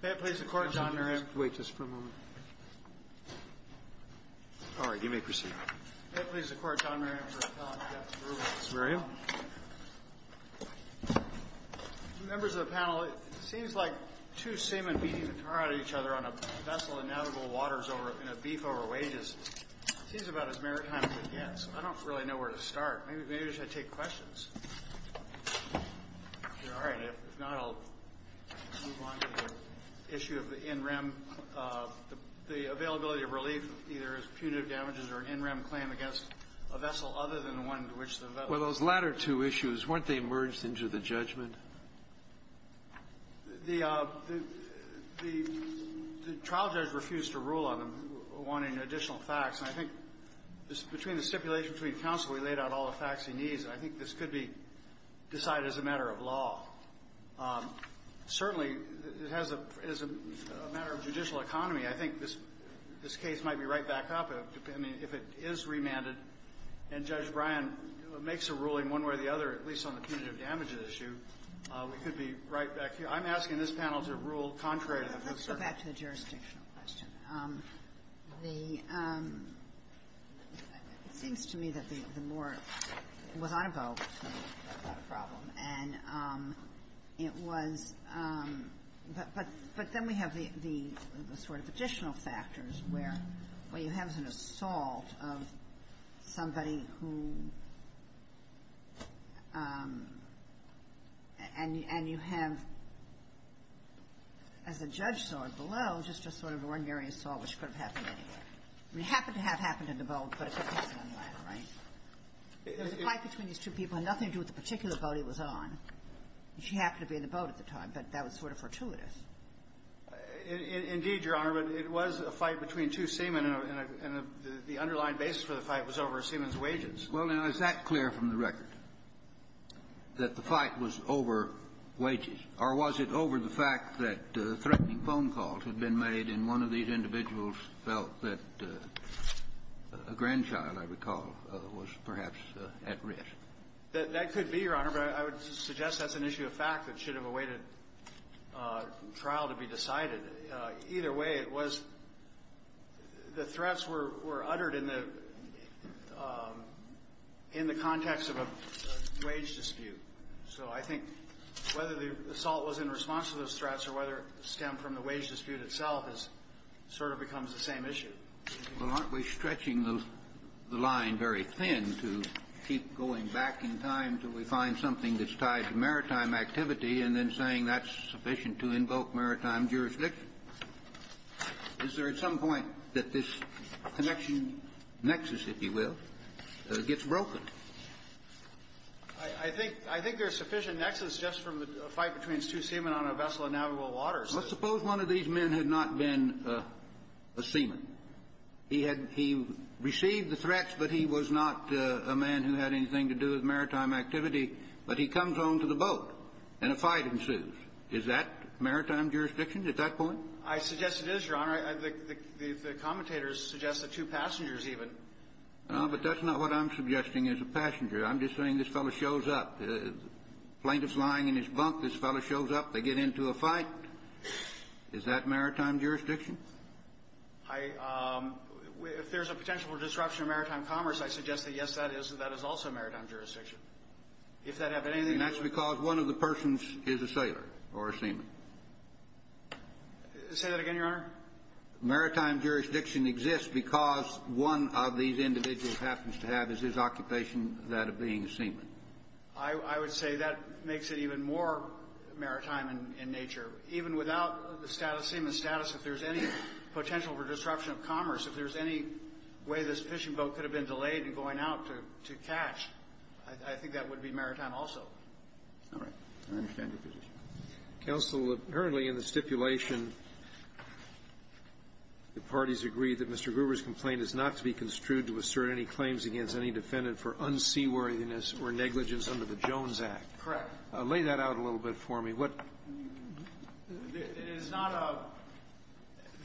May it please the Court, John Merriam. Wait just for a moment. All right, you may proceed. May it please the Court, John Merriam, for appellant Dex Rubens. Merriam. Members of the panel, it seems like two salmon beating the tar out of each other on a vessel in navigable waters in a beef over wages. It seems about as maritime as it gets. I don't really know where to start. Maybe I should take questions. All right. If not, I'll move on to the issue of the NREM. The availability of relief either is punitive damages or an NREM claim against a vessel other than the one to which the vessel... Well, those latter two issues, weren't they merged into the judgment? The trial judge refused to rule on them, wanting additional facts. And I think between the stipulation between counsel, we laid out all the facts he needs. I think this could be decided as a matter of law. Certainly, it has a matter of judicial economy. I think this case might be right back up, I mean, if it is remanded. And Judge Bryan makes a ruling one way or the other, at least on the punitive damages issue. We could be right back here. I'm asking this panel to rule contrary to the... Let's go back to the jurisdictional question. It seems to me that the more it was on a boat, it was not a problem. And it was — but then we have the sort of additional factors where you have an assault of somebody who — and you have, as the judge saw it below, just a sort of ordinary assault which could have happened anywhere. I mean, it happened to have happened in the boat, but it took place on land, right? There was a fight between these two people. It had nothing to do with the particular boat he was on. He happened to be in the boat at the time, but that was sort of fortuitous. Indeed, Your Honor. But it was a fight between two seamen, and the underlying basis for the fight was over a seaman's wages. Well, now, is that clear from the record, that the fight was over wages? Or was it over the fact that threatening phone calls had been made, and one of these That could be, Your Honor, but I would suggest that's an issue of fact that should have awaited trial to be decided. Either way, it was — the threats were uttered in the — in the context of a wage dispute. So I think whether the assault was in response to those threats or whether it stemmed from the wage dispute itself is — sort of becomes the same issue. Well, aren't we stretching the line very thin to keep going back in time until we find something that's tied to maritime activity, and then saying that's sufficient to invoke maritime jurisdiction? Is there at some point that this connection, nexus, if you will, gets broken? I think there's sufficient nexus just from the fight between two seamen on a vessel in Navajo waters. Well, suppose one of these men had not been a seaman. He had — he received the threats, but he was not a man who had anything to do with maritime activity. But he comes on to the boat, and a fight ensues. Is that maritime jurisdiction at that point? I suggest it is, Your Honor. The commentators suggest the two passengers, even. But that's not what I'm suggesting as a passenger. I'm just saying this fellow shows up. This fellow shows up. They get into a fight. Is that maritime jurisdiction? If there's a potential disruption of maritime commerce, I suggest that, yes, that is. That is also maritime jurisdiction. If that had anything to do with — And that's because one of the persons is a sailor or a seaman. Say that again, Your Honor? Maritime jurisdiction exists because one of these individuals happens to have his occupation, that of being a seaman. I would say that makes it even more maritime in nature. Even without the seaman status, if there's any potential for disruption of commerce, if there's any way this fishing boat could have been delayed in going out to catch, I think that would be maritime also. All right. I understand your position. Counsel, apparently in the stipulation, the parties agree that Mr. Gruber's complaint is not to be construed to assert any claims against any defendant for unseaworthiness or negligence under the Jones Act. Correct. Lay that out a little bit for me. What — It is not a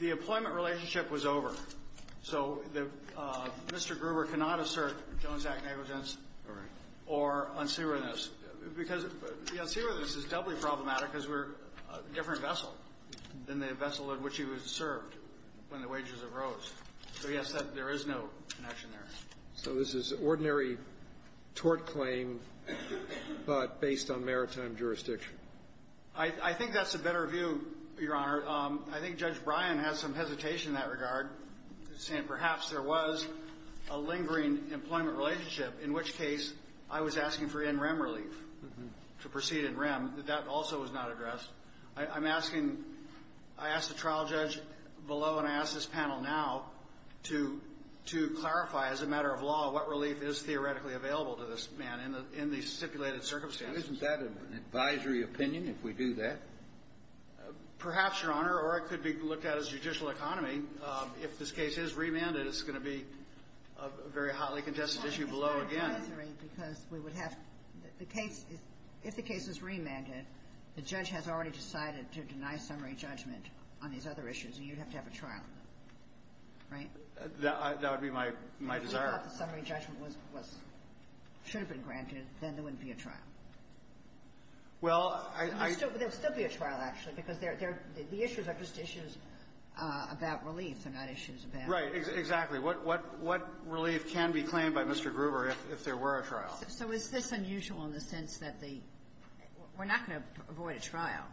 — the employment relationship was over. So the — Mr. Gruber cannot assert Jones Act negligence or unseaworthiness because the unseaworthiness is doubly problematic because we're a different vessel than the vessel in which he was served when the wages arose. So, yes, there is no connection there. So this is an ordinary tort claim, but based on maritime jurisdiction. I think that's a better view, Your Honor. I think Judge Bryan has some hesitation in that regard, saying perhaps there was a lingering employment relationship, in which case I was asking for NREM relief to proceed NREM. That also was not addressed. I'm asking — I asked the trial judge below and I asked this panel now to clarify as a matter of law what relief is theoretically available to this man in the stipulated circumstances. Isn't that an advisory opinion if we do that? Perhaps, Your Honor. Or it could be looked at as judicial economy. If this case is remanded, it's going to be a very hotly contested issue below again. It's an advisory because we would have the case — if the case is remanded, the judge has already decided to deny summary judgment on these other issues, and you'd have to have a trial, right? That would be my — my desire. If you thought the summary judgment was — should have been granted, then there wouldn't be a trial. Well, I — There would still be a trial, actually, because the issues are just issues about relief, they're not issues about — Exactly. What — what relief can be claimed by Mr. Gruber if there were a trial? So is this unusual in the sense that the — we're not going to avoid a trial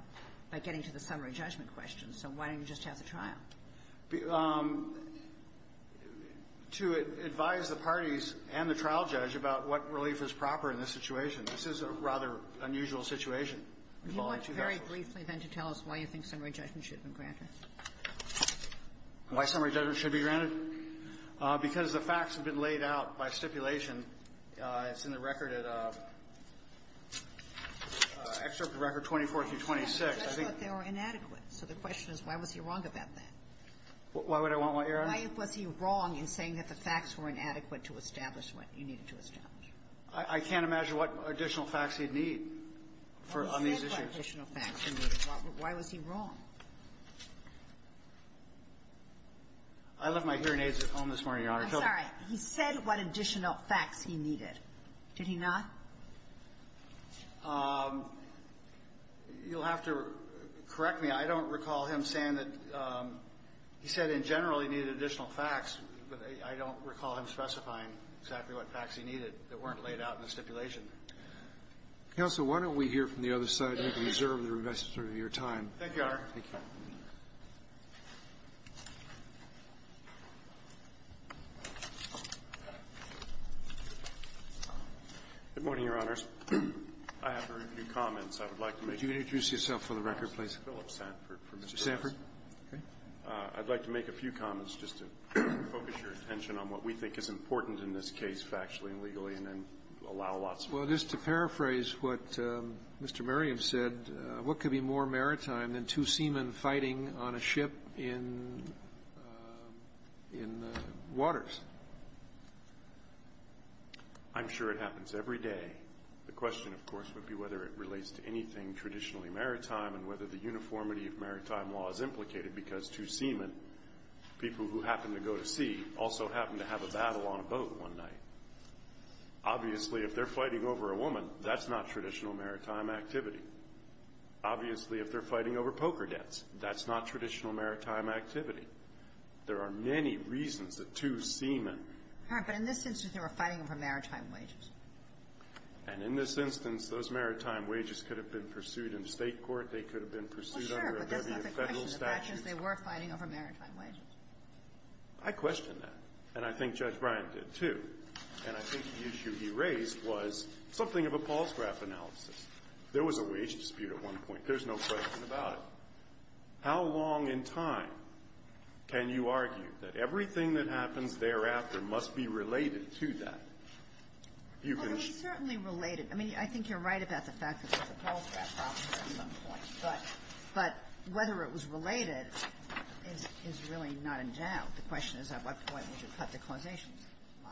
by getting to the summary judgment question, so why don't you just have the trial? To advise the parties and the trial judge about what relief is proper in this situation. This is a rather unusual situation. Would you look very briefly, then, to tell us why you think summary judgment should be granted? Why summary judgment should be granted? Because the facts have been laid out by stipulation. It's in the record at — excerpt from Record 24 through 26. I thought they were inadequate. So the question is, why was he wrong about that? Why would I want what you're asking? Why was he wrong in saying that the facts were inadequate to establish what you needed to establish? I can't imagine what additional facts he'd need on these issues. Why was he wrong? I left my hearing aids at home this morning, Your Honor. I'm sorry. He said what additional facts he needed. Did he not? You'll have to correct me. I don't recall him saying that — he said in general he needed additional facts, but I don't recall him specifying exactly what facts he needed that weren't laid out in the stipulation. Counsel, why don't we hear from the other side and observe the rest of your time? Thank you, Your Honor. Thank you. Good morning, Your Honors. I have a few comments I would like to make. Would you introduce yourself for the record, please? Philip Sanford. Mr. Sanford? I'd like to make a few comments just to focus your attention on what we think is important in this case, factually and legally, and then allow lots more. Well, just to paraphrase what Mr. Merriam said, what could be more maritime than two seamen fighting on a ship in waters? I'm sure it happens every day. The question, of course, would be whether it relates to anything traditionally maritime and whether the uniformity of maritime law is implicated, because two seamen, people who happen to go to sea, also happen to have a battle on a boat one night. Obviously, if they're fighting over a woman, that's not traditional maritime activity. Obviously, if they're fighting over poker debts, that's not traditional maritime activity. There are many reasons that two seamen ---- All right. But in this instance, they were fighting over maritime wages. And in this instance, those maritime wages could have been pursued in State court. They could have been pursued under a government federal statute. They were fighting over maritime wages. I question that. And I think Judge Bryant did, too. And I think the issue he raised was something of a Paul Scraff analysis. There was a wage dispute at one point. There's no question about it. How long in time can you argue that everything that happens thereafter must be related to that? Well, it was certainly related. I mean, I think you're right about the fact that there's a Paul Scraff problem here at some point. But whether it was related is really not in doubt. The question is, at what point would you cut the causation line?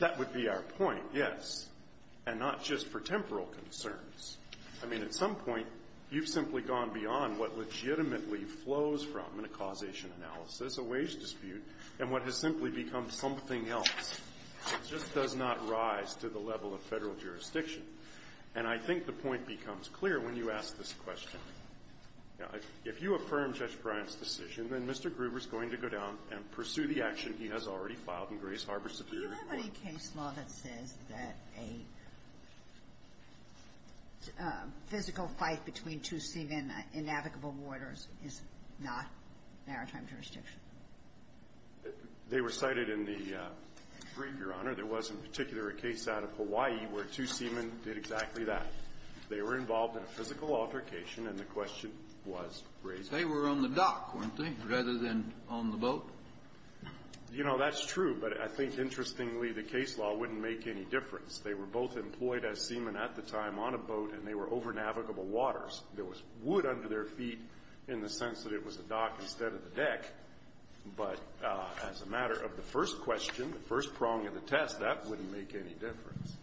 That would be our point, yes, and not just for temporal concerns. I mean, at some point, you've simply gone beyond what legitimately flows from a causation analysis, a wage dispute, and what has simply become something else. It just does not rise to the level of Federal jurisdiction. And I think the point becomes clear when you ask this question. Now, if you affirm Judge Bryant's decision, then Mr. Gruber's going to go down and pursue the action he has already filed in Grace Harbor Superior Court. Do you have any case law that says that a physical fight between two seamen in navigable waters is not maritime jurisdiction? They were cited in the brief, Your Honor. There was, in particular, a case out of Hawaii where two seamen did exactly that. They were involved in a physical altercation, and the question was raised. They were on the dock, weren't they, rather than on the boat? You know, that's true. But I think, interestingly, the case law wouldn't make any difference. They were both employed as seamen at the time on a boat, and they were over navigable waters. There was wood under their feet in the sense that it was a dock instead of a deck. But as a matter of the first question, the first prong of the test, that wouldn't make any difference.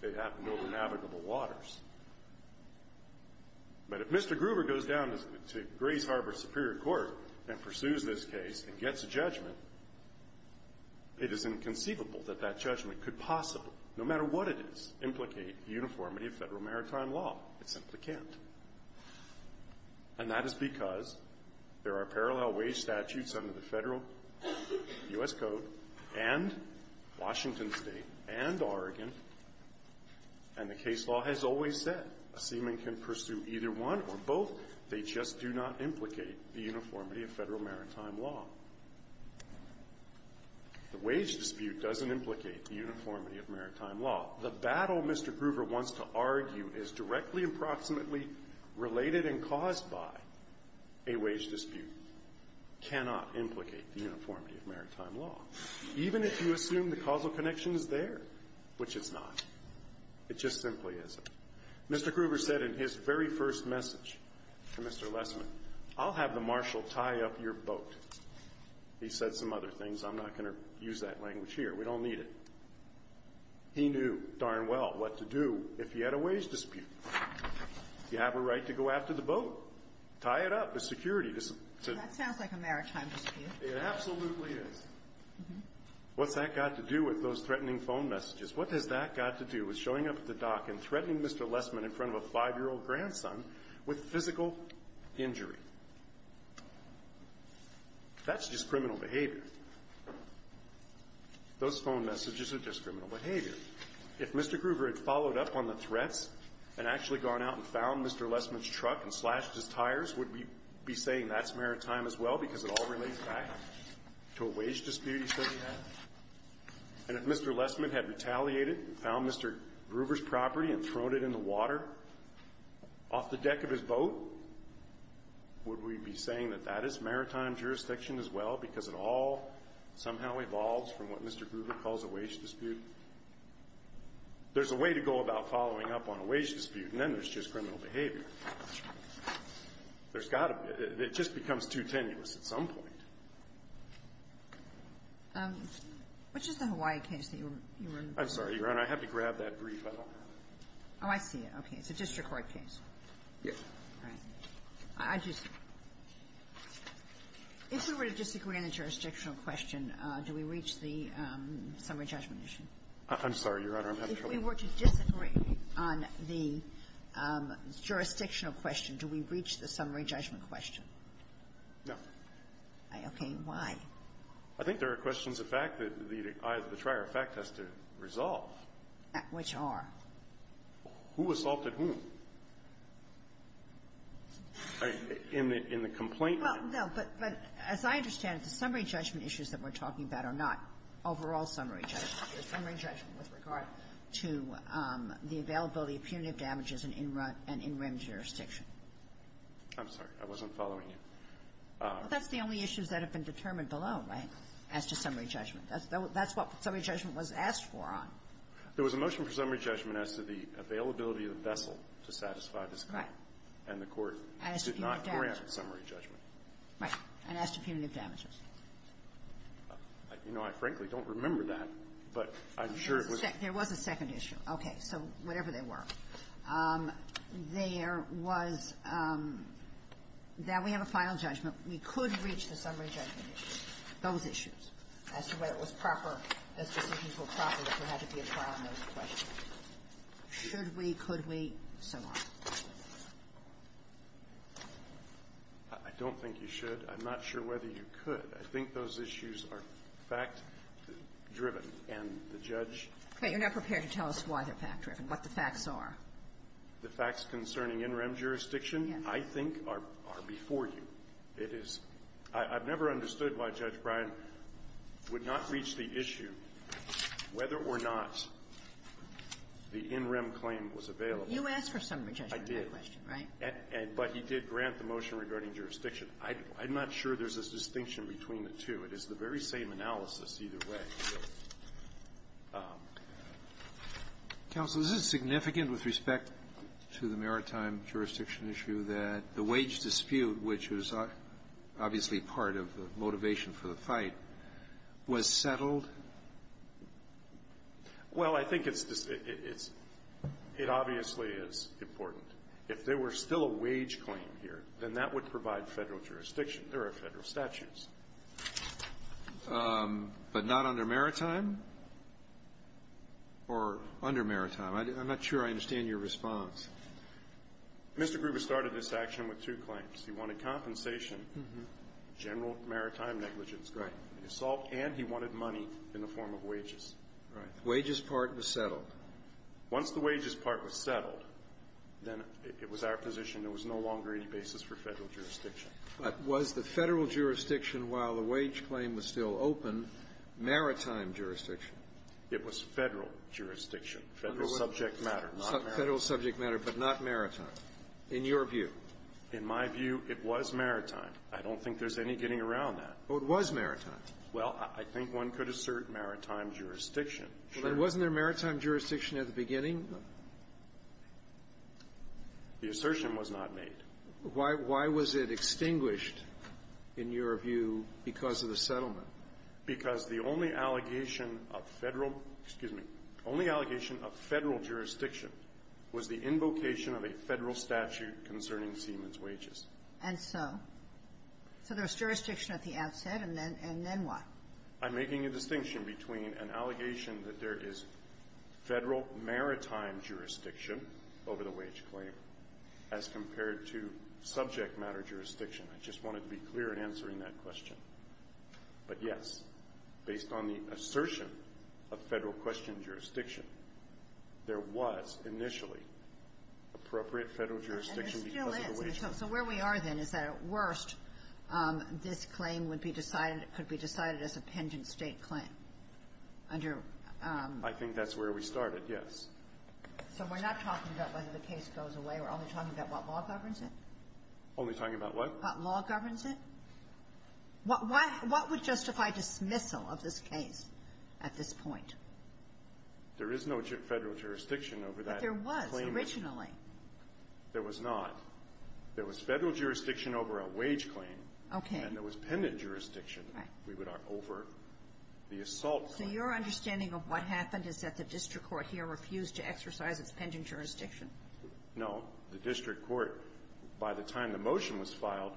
They happened over navigable waters. But if Mr. Gruber goes down to Grace Harbor Superior Court and pursues this case and gets a judgment, it is inconceivable that that judgment could possibly, no matter what it is, implicate uniformity of federal maritime law. It simply can't. And that is because there are parallel wage statutes under the federal U.S. Code and Washington State and Oregon, and the case law has always said a seaman can pursue either one or both. They just do not implicate the uniformity of federal maritime law. The wage dispute doesn't implicate the uniformity of maritime law. The battle Mr. Gruber wants to argue is directly approximately related and caused by a wage dispute cannot implicate the uniformity of maritime law, even if you assume the causal connection is there, which it's not. It just simply isn't. Mr. Gruber said in his very first message to Mr. Lessman, I'll have the marshal tie up your boat. He said some other things. I'm not going to use that language here. We don't need it. He knew darn well what to do if he had a wage dispute. You have a right to go after the boat. Tie it up. It's security. And that sounds like a maritime dispute. It absolutely is. What's that got to do with those threatening phone messages? What has that got to do with showing up at the dock and threatening Mr. Lessman in front of a 5-year-old grandson with physical injury? That's just criminal behavior. Those phone messages are just criminal behavior. If Mr. Gruber had followed up on the threats and actually gone out and found Mr. Lessman's truck and slashed his tires, would we be saying that's maritime as well because it all relates back to a wage dispute he said he had? And if Mr. Lessman had retaliated and found Mr. Gruber's property and thrown it in the water off the deck of his boat, would we be saying that that is maritime jurisdiction as well because it all somehow evolves from what Mr. Gruber calls a wage dispute? There's a way to go about following up on a wage dispute, and then there's just criminal behavior. There's got to be. It just becomes too tenuous at some point. Which is the Hawaii case that you were referring to? I'm sorry, Your Honor. I had to grab that brief. I don't have it. Okay. It's a district court case. Yes. All right. I just — if we were to disagree on a jurisdictional question, do we reach the summary judgment issue? I'm sorry, Your Honor. I'm having trouble. If we were to disagree on the jurisdictional question, do we reach the summary judgment question? No. Okay. Why? I think there are questions of fact that either the trier of fact has to resolve. Which are? Who assaulted whom? All right. In the complaint? Well, no. But as I understand it, the summary judgment issues that we're talking about are not overall summary judgment. They're summary judgment with regard to the availability of punitive damages in in-rim jurisdiction. I'm sorry. I wasn't following you. Well, that's the only issues that have been determined below, right, as to summary judgment. That's what summary judgment was asked for on. There was a motion for summary judgment as to the availability of the vessel to satisfy this claim. Right. And the Court did not grant summary judgment. Right. And as to punitive damages. You know, I frankly don't remember that, but I'm sure it was — There was a second issue. Okay. So whatever they were, there was that we have a final judgment. We could reach the summary judgment issues, those issues, as to whether it was proper as decisions were proper that we had to be a part of those questions. Should we? Could we? So on. I don't think you should. I'm not sure whether you could. I think those issues are fact-driven, and the judge — Okay. You're not prepared to tell us why they're fact-driven, what the facts are. The facts concerning in-rim jurisdiction, I think, are before you. It is — I've never understood why Judge Bryan would not reach the issue whether or not the in-rim claim was available. You asked for summary judgment. I did. Right? But he did grant the motion regarding jurisdiction. I'm not sure there's a distinction between the two. It is the very same analysis either way. Counsel, this is significant with respect to the maritime jurisdiction issue that the wage dispute, which was obviously part of the motivation for the fight, was settled. Well, I think it's — it obviously is important. If there were still a wage claim here, then that would provide Federal jurisdiction. There are Federal statutes. But not under maritime? Or under maritime? I'm not sure I understand your response. Mr. Gruber started this action with two claims. He wanted compensation, general maritime negligence. Right. And he wanted money in the form of wages. Right. The wages part was settled. Once the wages part was settled, then it was our position there was no longer any basis for Federal jurisdiction. But was the Federal jurisdiction, while the wage claim was still open, maritime jurisdiction? It was Federal jurisdiction. Federal subject matter, not maritime. Federal subject matter, but not maritime. In your view. In my view, it was maritime. I don't think there's any getting around that. Well, it was maritime. Well, I think one could assert maritime jurisdiction. Sure. But wasn't there maritime jurisdiction at the beginning? The assertion was not made. Why was it extinguished, in your view, because of the settlement? Because the only allegation of Federal, excuse me, only allegation of Federal jurisdiction was the invocation of a Federal statute concerning Siemens wages. And so? So there's jurisdiction at the outset, and then what? I'm making a distinction between an allegation that there is Federal maritime jurisdiction over the wage claim as compared to subject matter jurisdiction. I just wanted to be clear in answering that question. But, yes, based on the assertion of Federal question jurisdiction, there was initially appropriate Federal jurisdiction because of the wage claim. And there still is. So where we are then is that, at worst, this claim would be decided, could be decided as a penchant State claim under? I think that's where we started, yes. So we're not talking about whether the case goes away. We're only talking about what law governs it? Only talking about what? What law governs it? What would justify dismissal of this case at this point? There is no Federal jurisdiction over that claim. But there was originally. There was not. There was Federal jurisdiction over a wage claim. Okay. And there was penchant jurisdiction over the assault claim. So your understanding of what happened is that the district court here refused to exercise its penchant jurisdiction? No. The district court, by the time the motion was filed,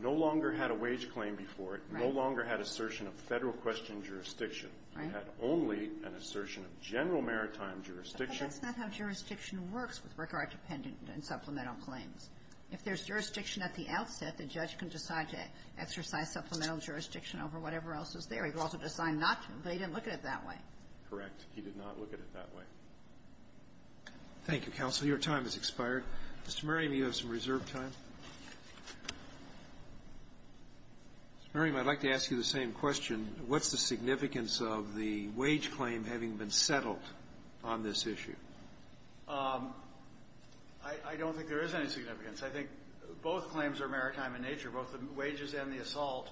no longer had a wage claim before it, no longer had assertion of Federal question jurisdiction. Right. It had only an assertion of general maritime jurisdiction. But that's not how jurisdiction works with regard to pendant and supplemental claims. If there's jurisdiction at the outset, the judge can decide to exercise supplemental jurisdiction over whatever else is there. He could also decide not to, but he didn't look at it that way. Correct. He did not look at it that way. Thank you, counsel. Your time has expired. Mr. Merriam, you have some reserved time. Mr. Merriam, I'd like to ask you the same question. What's the significance of the wage claim having been settled on this issue? I don't think there is any significance. I think both claims are maritime in nature, both the wages and the assault.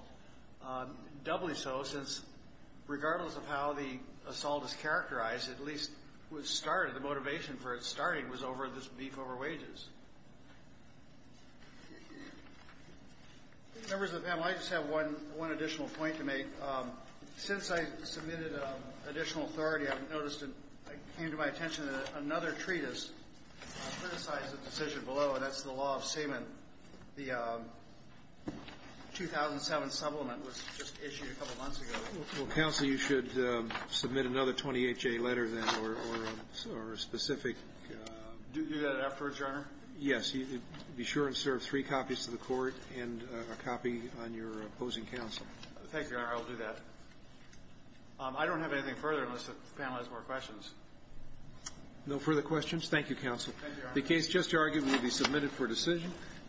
Doubly so, since regardless of how the assault is characterized, at least what started, the motivation for it starting was over this beef over wages. Members of the panel, I just have one additional point to make. Since I submitted additional authority, I've noticed it came to my attention that another treatise criticized the decision below, and that's the law of supplement was just issued a couple months ago. Well, counsel, you should submit another 28-J letter then or a specific. Do that afterwards, Your Honor? Yes. Be sure and serve three copies to the court and a copy on your opposing counsel. Thank you, Your Honor. I'll do that. I don't have anything further unless the panel has more questions. No further questions? Thank you, counsel. Thank you, Your Honor. The case just argued will be submitted for decision.